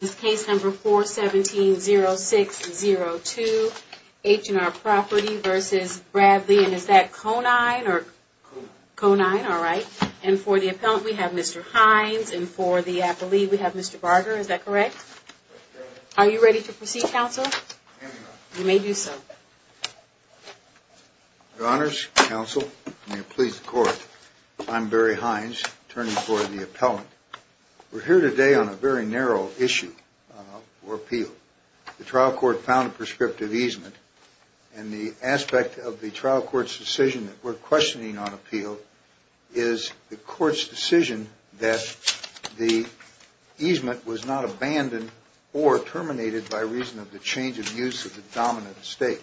This case number 417-0602 H&R Property v. Bradley and is that Conine or? Conine. Conine, alright. And for the appellant we have Mr. Hines and for the appellee we have Mr. Barger, is that correct? That's correct. Are you ready to proceed, counsel? I'm ready, ma'am. You may do so. Your honors, counsel, may it please the court, I'm Barry Hines, attorney for the appellant. We're here today on a very narrow issue for appeal. The trial court found a prescriptive easement and the aspect of the trial court's decision that we're questioning on appeal is the court's decision that the easement was not abandoned or terminated by reason of the change of use of the dominant estate.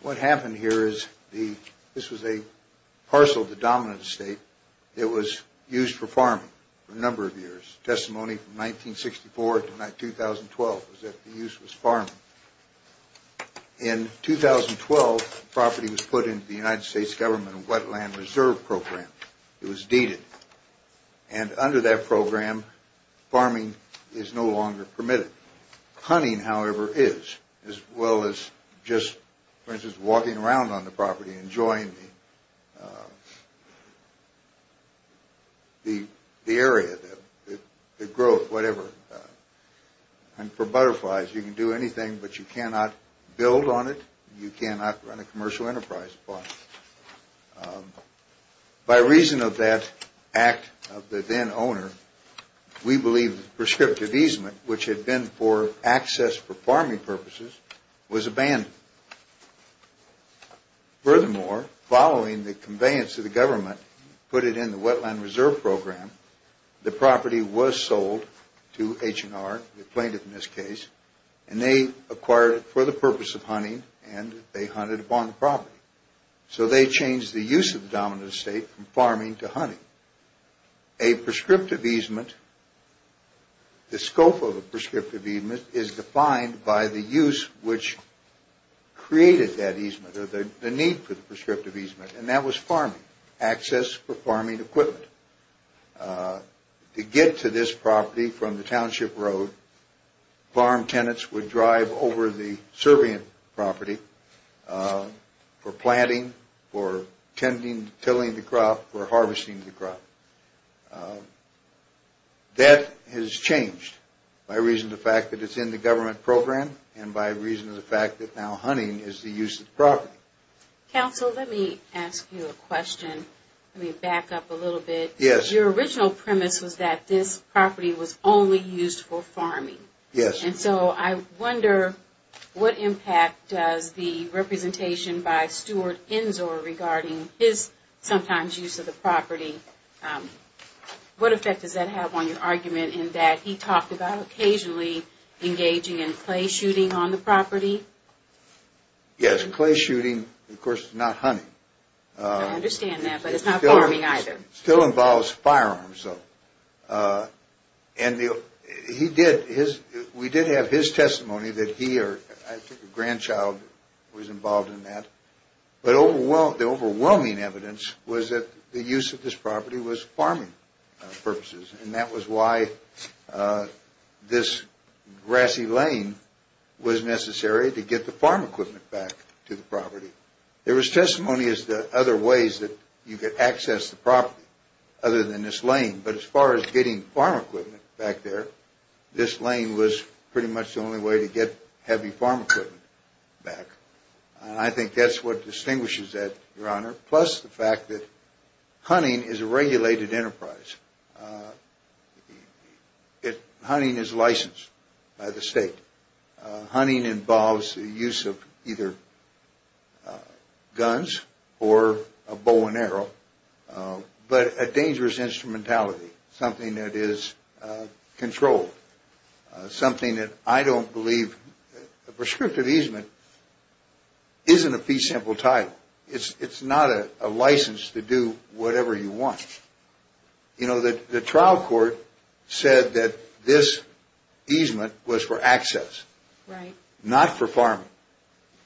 What happened here is this was a parcel of the dominant estate that was used for farming for a number of years. Testimony from 1964 to 2012 was that the use was farming. In 2012, the property was put into the United States Government Wetland Reserve Program. It was deeded. And under that program, farming is no longer permitted. Hunting, however, is, as well as just, for instance, walking around on the property, enjoying the area, the growth, whatever. And for butterflies, you can do anything, but you cannot build on it. You cannot run a commercial enterprise upon it. By reason of that act of the then owner, we believe the prescriptive easement, which had been for access for farming purposes, was abandoned. Furthermore, following the conveyance of the government, put it in the Wetland Reserve Program, the property was sold to H&R, the plaintiff in this case, and they acquired it for the purpose of hunting and they hunted upon the property. So they changed the use of the dominant estate from farming to hunting. A prescriptive easement, the scope of a prescriptive easement, is defined by the use which created that easement or the need for the prescriptive easement, and that was farming. Access for farming equipment. To get to this property from the Township Road, farm tenants would drive over the Serbian property for planting, for tilling the crop, for harvesting the crop. That has changed by reason of the fact that it's in the government program and by reason of the fact that now hunting is the use of the property. Counsel, let me ask you a question. Let me back up a little bit. Yes. Your original premise was that this property was only used for farming. Yes. And so I wonder what impact does the representation by Stuart Ensor regarding his sometimes use of the property, what effect does that have on your argument in that he talked about occasionally engaging in clay shooting on the property? Yes, clay shooting, of course, not hunting. I understand that, but it's not farming either. It still involves firearms though. And he did, we did have his testimony that he or I think a grandchild was involved in that. But the overwhelming evidence was that the use of this property was farming purposes and that was why this grassy lane was necessary to get the farm equipment back to the property. There was testimony as to other ways that you could access the property other than this lane, but as far as getting farm equipment back there, this lane was pretty much the only way to get heavy farm equipment back. And I think that's what distinguishes that, Your Honor, plus the fact that hunting is a regulated enterprise. Hunting is licensed by the state. Hunting involves the use of either guns or a bow and arrow, but a dangerous instrumentality, something that is controlled, something that I don't believe, a prescriptive easement isn't a fee simple title. It's not a license to do whatever you want. You know, the trial court said that this easement was for access, not for farming,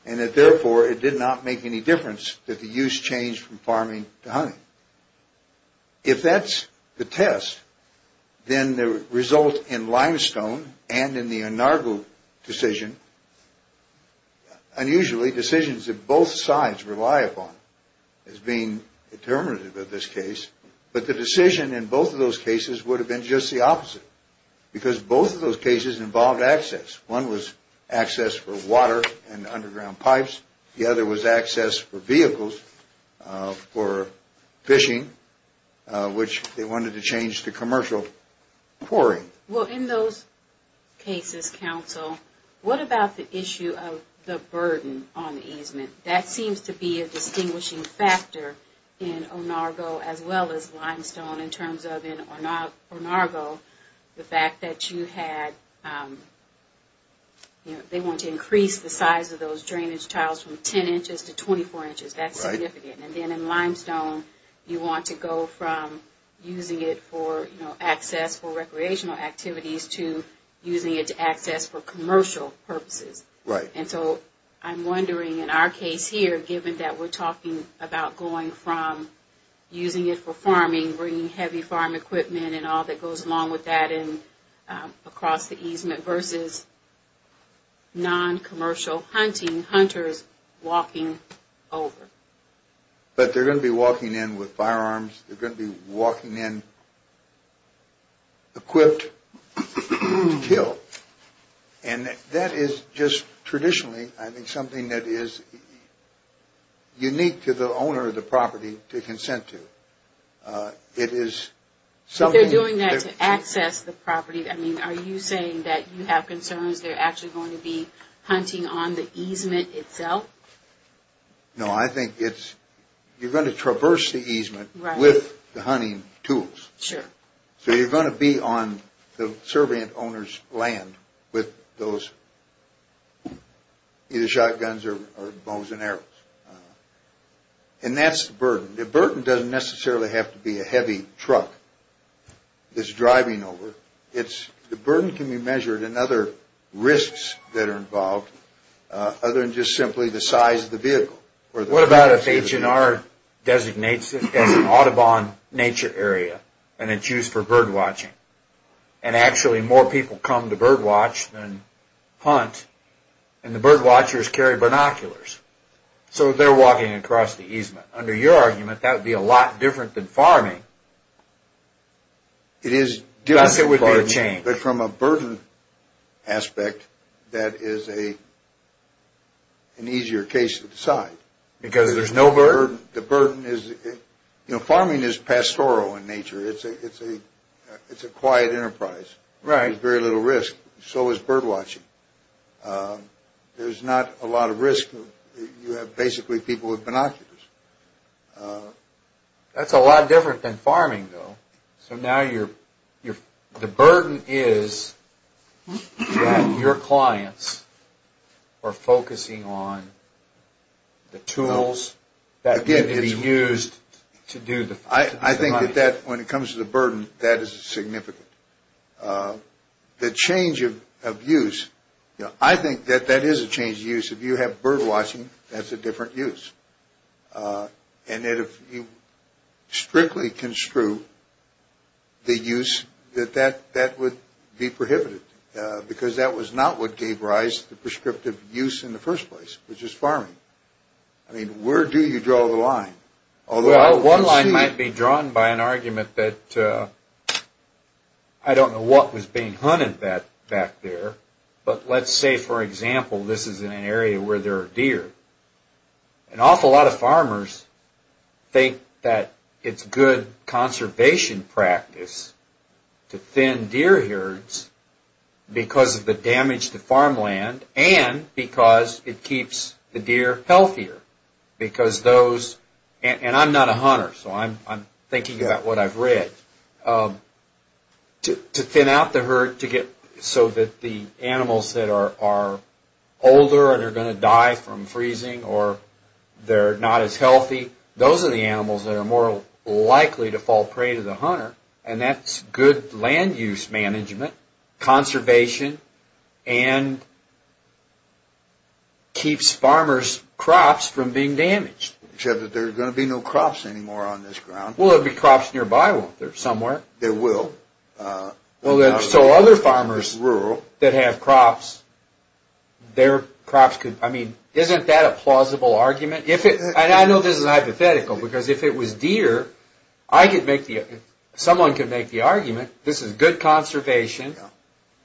and that therefore it did not make any difference that the use changed from farming to hunting. If that's the test, then the result in Limestone and in the Enargo decision, unusually decisions that both sides rely upon as being determinative of this case, but the decision in both of those cases would have been just the opposite because both of those cases involved access. One was access for water and underground pipes. The other was access for vehicles for fishing, which they wanted to change to commercial quarry. Well, in those cases, counsel, what about the issue of the burden on the easement? That seems to be a distinguishing factor in Enargo as well as Limestone in terms of Enargo, the fact that you had, they wanted to increase the size of those drainage tiles from 10 inches to 24 inches. That's significant. And then in Limestone, you want to go from using it for access for recreational activities to using it to access for commercial purposes. Right. And so I'm wondering in our case here, given that we're talking about going from using it for farming, bringing heavy farm equipment and all that goes along with that across the easement versus noncommercial hunting, hunters walking over. But they're going to be walking in with firearms. They're going to be walking in equipped to kill. And that is just traditionally, I think, something that is unique to the owner of the property to consent to. It is something. But they're doing that to access the property. I mean, are you saying that you have concerns they're actually going to be hunting on the easement itself? No, I think it's, you're going to traverse the easement with the hunting tools. Sure. So you're going to be on the servant owner's land with those either shotguns or bows and arrows. And that's the burden. The burden doesn't necessarily have to be a heavy truck that's driving over. The burden can be measured in other risks that are involved other than just simply the size of the vehicle. What about if H&R designates it as an Audubon nature area and it's used for bird watching? And actually more people come to bird watch than hunt. And the bird watchers carry binoculars. So they're walking across the easement. Under your argument, that would be a lot different than farming. It is different, but from a burden aspect, that is an easier case to decide. Because there's no bird? The burden is, you know, farming is pastoral in nature. It's a quiet enterprise. There's very little risk. So is bird watching. There's not a lot of risk. You have basically people with binoculars. That's a lot different than farming, though. So now the burden is that your clients are focusing on the tools that are going to be used to do the... I think that when it comes to the burden, that is significant. The change of use, I think that that is a change of use. If you have bird watching, that's a different use. And that if you strictly construe the use, that that would be prohibited. Because that was not what gave rise to prescriptive use in the first place, which is farming. I mean, where do you draw the line? Well, one line might be drawn by an argument that I don't know what was being hunted back there. But let's say, for example, this is an area where there are deer. An awful lot of farmers think that it's good conservation practice to thin deer herds because of the damage to farmland and because it keeps the deer healthier. Because those... And I'm not a hunter, so I'm thinking about what I've read. To thin out the herd so that the animals that are older and are going to die from freezing or they're not as healthy, those are the animals that are more likely to fall prey to the hunter. And that's good land use management, conservation, and keeps farmers' crops from being damaged. Except that there are going to be no crops anymore on this ground. Well, there'll be crops nearby, won't there, somewhere? There will. So other farmers that have crops, their crops could... I mean, isn't that a plausible argument? And I know this is hypothetical because if it was deer, someone could make the argument this is good conservation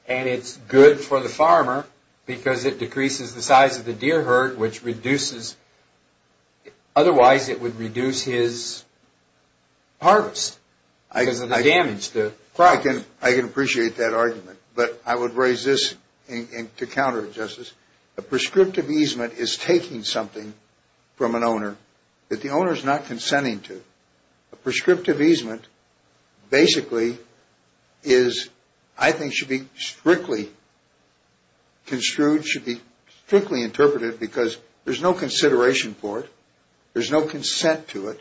and it's good for the farmer because it decreases the size of the deer herd, which reduces... Otherwise, it would reduce his harvest because of the damage to... I can appreciate that argument, but I would raise this to counter it, Justice. A prescriptive easement is taking something from an owner that the owner is not consenting to. A prescriptive easement basically is, I think, should be strictly construed, should be strictly interpreted because there's no consideration for it. There's no consent to it.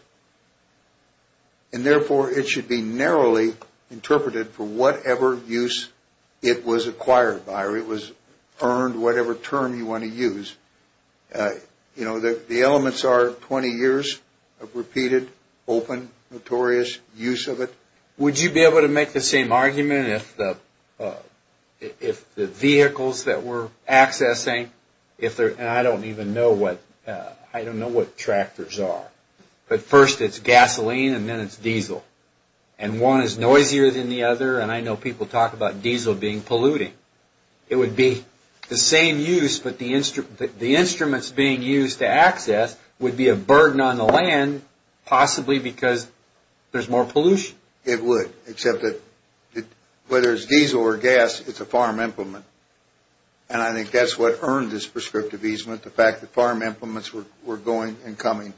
And therefore, it should be narrowly interpreted for whatever use it was acquired by or it was earned, whatever term you want to use. You know, the elements are 20 years of repeated, open, notorious use of it. Would you be able to make the same argument if the vehicles that we're accessing, and I don't even know what tractors are, but first it's gasoline and then it's diesel. And one is noisier than the other, and I know people talk about diesel being polluting. It would be the same use, but the instruments being used to access would be a burden on the land, possibly because there's more pollution? It would, except that whether it's diesel or gas, it's a farm implement. And I think that's what earned this prescriptive easement, the fact that farm implements were going and coming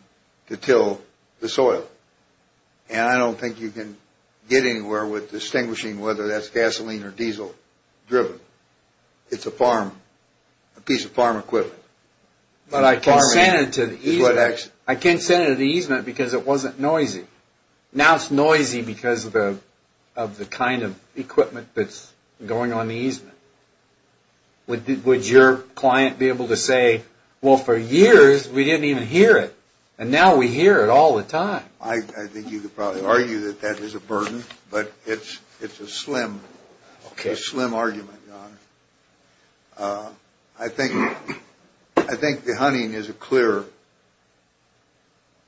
to till the soil. And I don't think you can get anywhere with distinguishing whether that's gasoline or diesel driven. It's a piece of farm equipment. But I consented to the easement. I consented to the easement because it wasn't noisy. Now it's noisy because of the kind of equipment that's going on the easement. Would your client be able to say, well, for years we didn't even hear it. And now we hear it all the time. I think you could probably argue that that is a burden, but it's a slim argument, Your Honor. I think the hunting is a clear,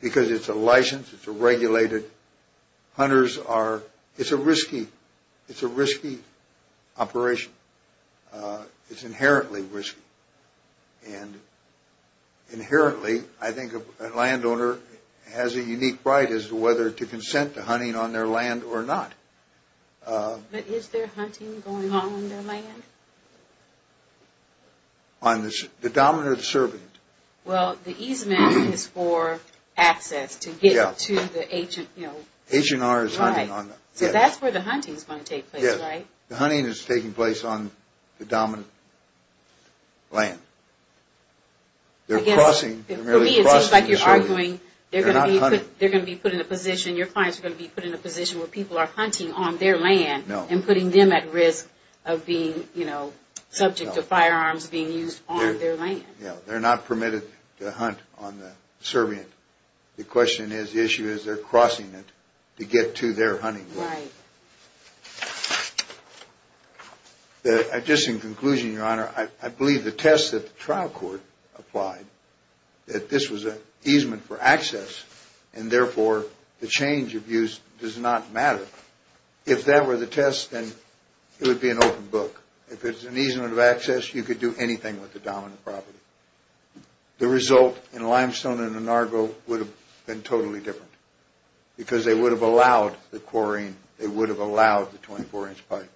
because it's a license, it's a regulated. Hunters are, it's a risky, it's a risky operation. It's inherently risky. And inherently, I think a landowner has a unique right as to whether to consent to hunting on their land or not. But is there hunting going on on their land? On the dominant servant. Well, the easement is for access to get to the agent, you know. Agent R is hunting on them. Right. So that's where the hunting is going to take place, right? Yes. The hunting is taking place on the dominant land. They're crossing. For me it seems like you're arguing they're going to be put in a position, your clients are going to be put in a position where people are hunting on their land. No. And putting them at risk of being, you know, subject to firearms being used on their land. Yeah. They're not permitted to hunt on the servant. The question is, the issue is they're crossing it to get to their hunting. Right. Just in conclusion, Your Honor, I believe the test that the trial court applied, that this was an easement for access, and therefore the change of use does not matter. If that were the test, then it would be an open book. If it's an easement of access, you could do anything with the dominant property. The result in Limestone and Anargo would have been totally different because they would have allowed the chlorine. They would have allowed the 24-inch pipe.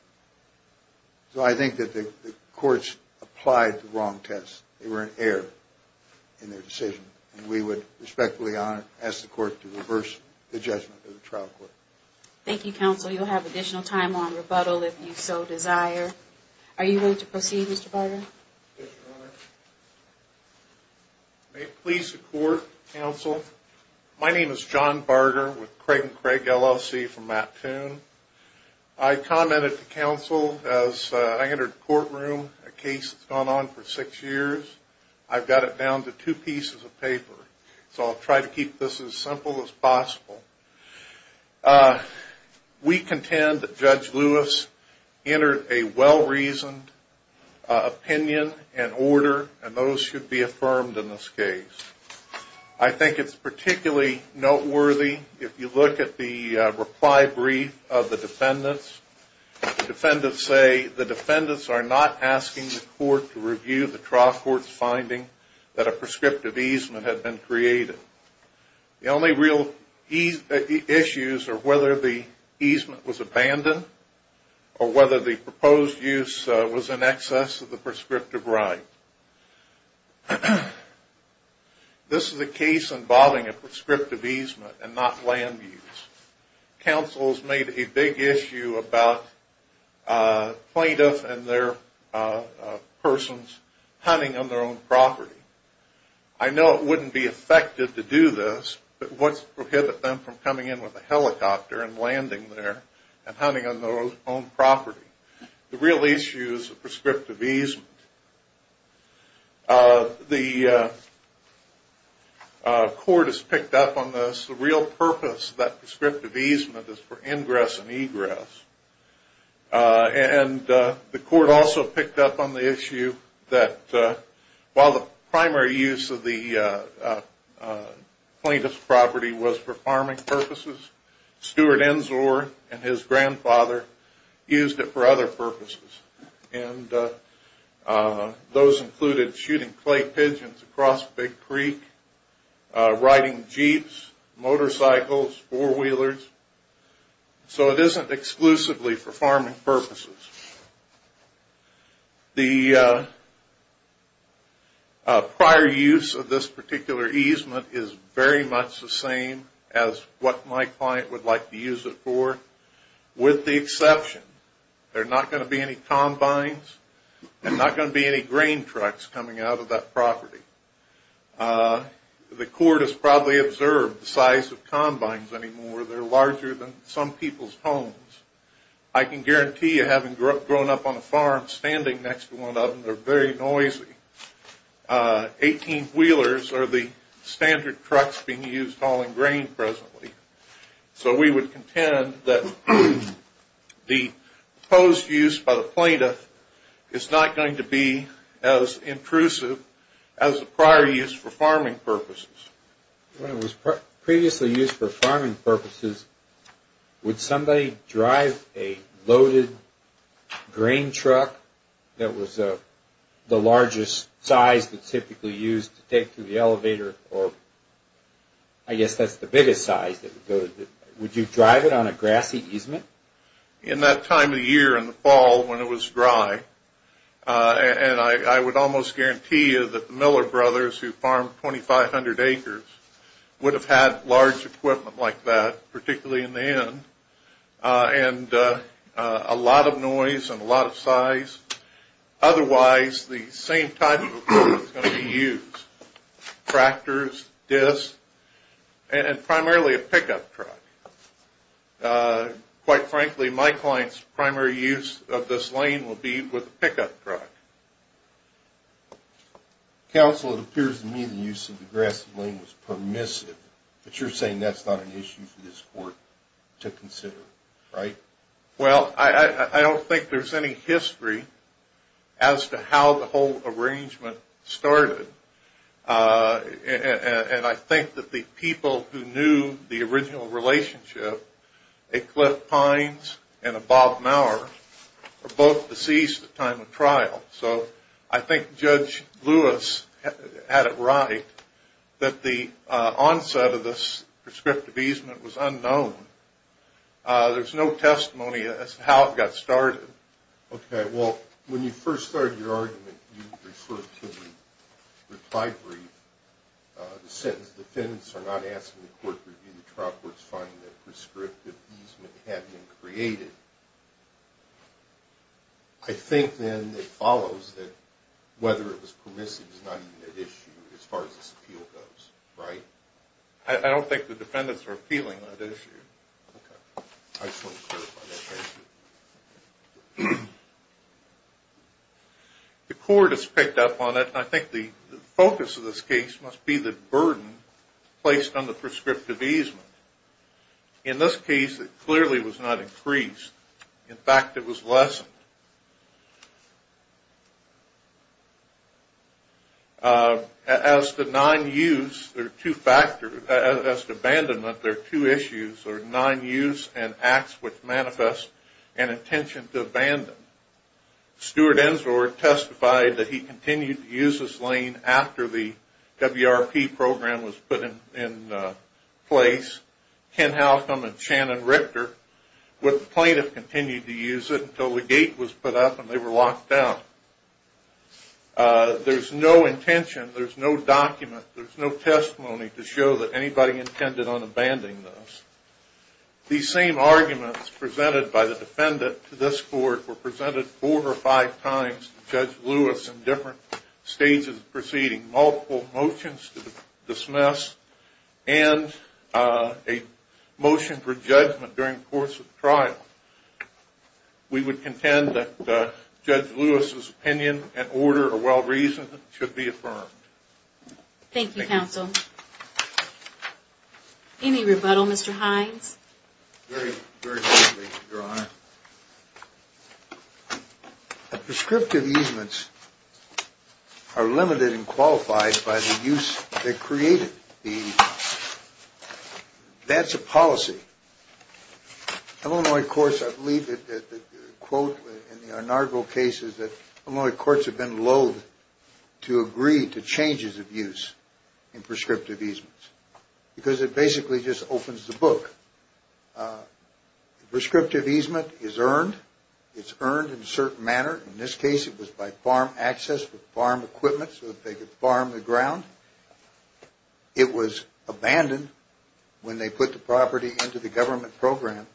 So I think that the courts applied the wrong test. They were an error in their decision. And we would respectfully ask the court to reverse the judgment of the trial court. Thank you, Counsel. You'll have additional time on rebuttal if you so desire. Are you willing to proceed, Mr. Barger? Yes, Your Honor. May it please the Court, Counsel, my name is John Barger with Craig & Craig LLC from Mattoon. I commented to Counsel as I entered the courtroom, a case that's gone on for six years. I've got it down to two pieces of paper. So I'll try to keep this as simple as possible. We contend that Judge Lewis entered a well-reasoned opinion and order, and those should be affirmed in this case. I think it's particularly noteworthy if you look at the reply brief of the defendants. The defendants say the defendants are not asking the court to review the trial court's finding that a prescriptive easement had been created. The only real issues are whether the easement was abandoned or whether the proposed use was in excess of the prescriptive right. This is a case involving a prescriptive easement and not land use. Counsel's made a big issue about plaintiffs and their persons hunting on their own property. I know it wouldn't be effective to do this, but what would prohibit them from coming in with a helicopter and landing there and hunting on their own property? The real issue is the prescriptive easement. The court has picked up on this. The real purpose of that prescriptive easement is for ingress and egress. The court also picked up on the issue that while the primary use of the plaintiff's property was for farming purposes, Stuart Ensor and his grandfather used it for other purposes. Those included shooting clay pigeons across Big Creek, riding jeeps, motorcycles, four-wheelers. So it isn't exclusively for farming purposes. The prior use of this particular easement is very much the same as what my client would like to use it for, with the exception there are not going to be any combines and not going to be any grain trucks coming out of that property. The court has probably observed the size of combines anymore. They're larger than some people's homes. I can guarantee you having grown up on a farm, standing next to one of them, they're very noisy. Eighteen-wheelers are the standard trucks being used hauling grain presently. So we would contend that the proposed use by the plaintiff is not going to be as intrusive as the prior use for farming purposes. When it was previously used for farming purposes, would somebody drive a loaded grain truck that was the largest size that's typically used to take to the elevator, or I guess that's the biggest size, would you drive it on a grassy easement? In that time of year in the fall when it was dry, and I would almost guarantee you that the Miller brothers who farmed 2,500 acres would have had large equipment like that, particularly in the end, and a lot of noise and a lot of size. Otherwise, the same type of equipment is going to be used, tractors, discs, and primarily a pickup truck. Quite frankly, my client's primary use of this lane would be with a pickup truck. Counsel, it appears to me the use of the grassy lane was permissive, but you're saying that's not an issue for this court to consider, right? Well, I don't think there's any history as to how the whole arrangement started, and I think that the people who knew the original relationship, a Cliff Pines and a Bob Maurer, were both deceased at the time of trial. So I think Judge Lewis had it right that the onset of this prescriptive easement was unknown. There's no testimony as to how it got started. Okay, well, when you first started your argument, you referred to the reply brief. The sentence, defendants are not asking the court to review the trial court's finding that prescriptive easement had been created. I think then it follows that whether it was permissive is not even at issue as far as this appeal goes, right? I don't think the defendants are appealing on that issue. I just want to clarify that. The court has picked up on it, and I think the focus of this case must be the burden placed on the prescriptive easement. In this case, it clearly was not increased. In fact, it was lessened. As to non-use, there are two factors. As to abandonment, there are two issues. There are non-use and acts which manifest an intention to abandon. Stuart Ensor testified that he continued to use this lane after the WRP program was put in place. Ken Halcom and Shannon Richter were the plaintiff who continued to use it until the gate was put up and they were locked down. There's no intention, there's no document, there's no testimony to show that anybody intended on abandoning this. These same arguments presented by the defendant to this court were presented four or five times to Judge Lewis in different stages of proceeding. Multiple motions to dismiss and a motion for judgment during the course of the trial. We would contend that Judge Lewis' opinion and order are well-reasoned and should be affirmed. Thank you, counsel. Any rebuttal, Mr. Hines? Very briefly, Your Honor. Prescriptive easements are limited and qualified by the use they created. That's a policy. Illinois courts, I believe that the quote in the Arnardville case is that Illinois courts have been loath to agree to changes of use in prescriptive easements. Because it basically just opens the book. Prescriptive easement is earned. It's earned in a certain manner. In this case, it was by farm access with farm equipment so that they could farm the ground. It was abandoned when they put the property into the government program.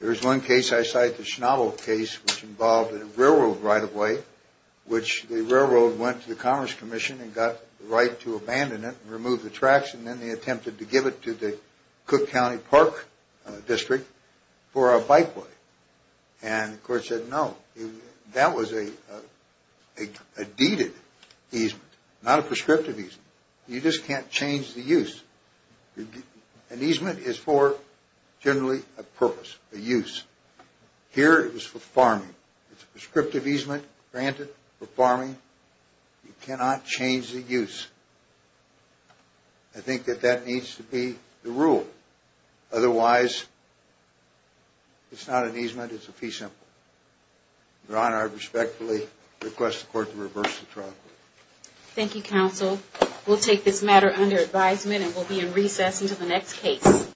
There's one case I cite, the Schnabel case, which involved a railroad right-of-way, which the railroad went to the Commerce Commission and got the right to abandon it and remove the tracks, and then they attempted to give it to the Cook County Park District for a bikeway. And the court said no. That was a deeded easement, not a prescriptive easement. You just can't change the use. An easement is for generally a purpose, a use. Here, it was for farming. It's a prescriptive easement granted for farming. You cannot change the use. I think that that needs to be the rule. Otherwise, it's not an easement, it's a fee simple. Your Honor, I respectfully request the court to reverse the trial. Thank you, counsel. We'll take this matter under advisement and we'll be in recess until the next case.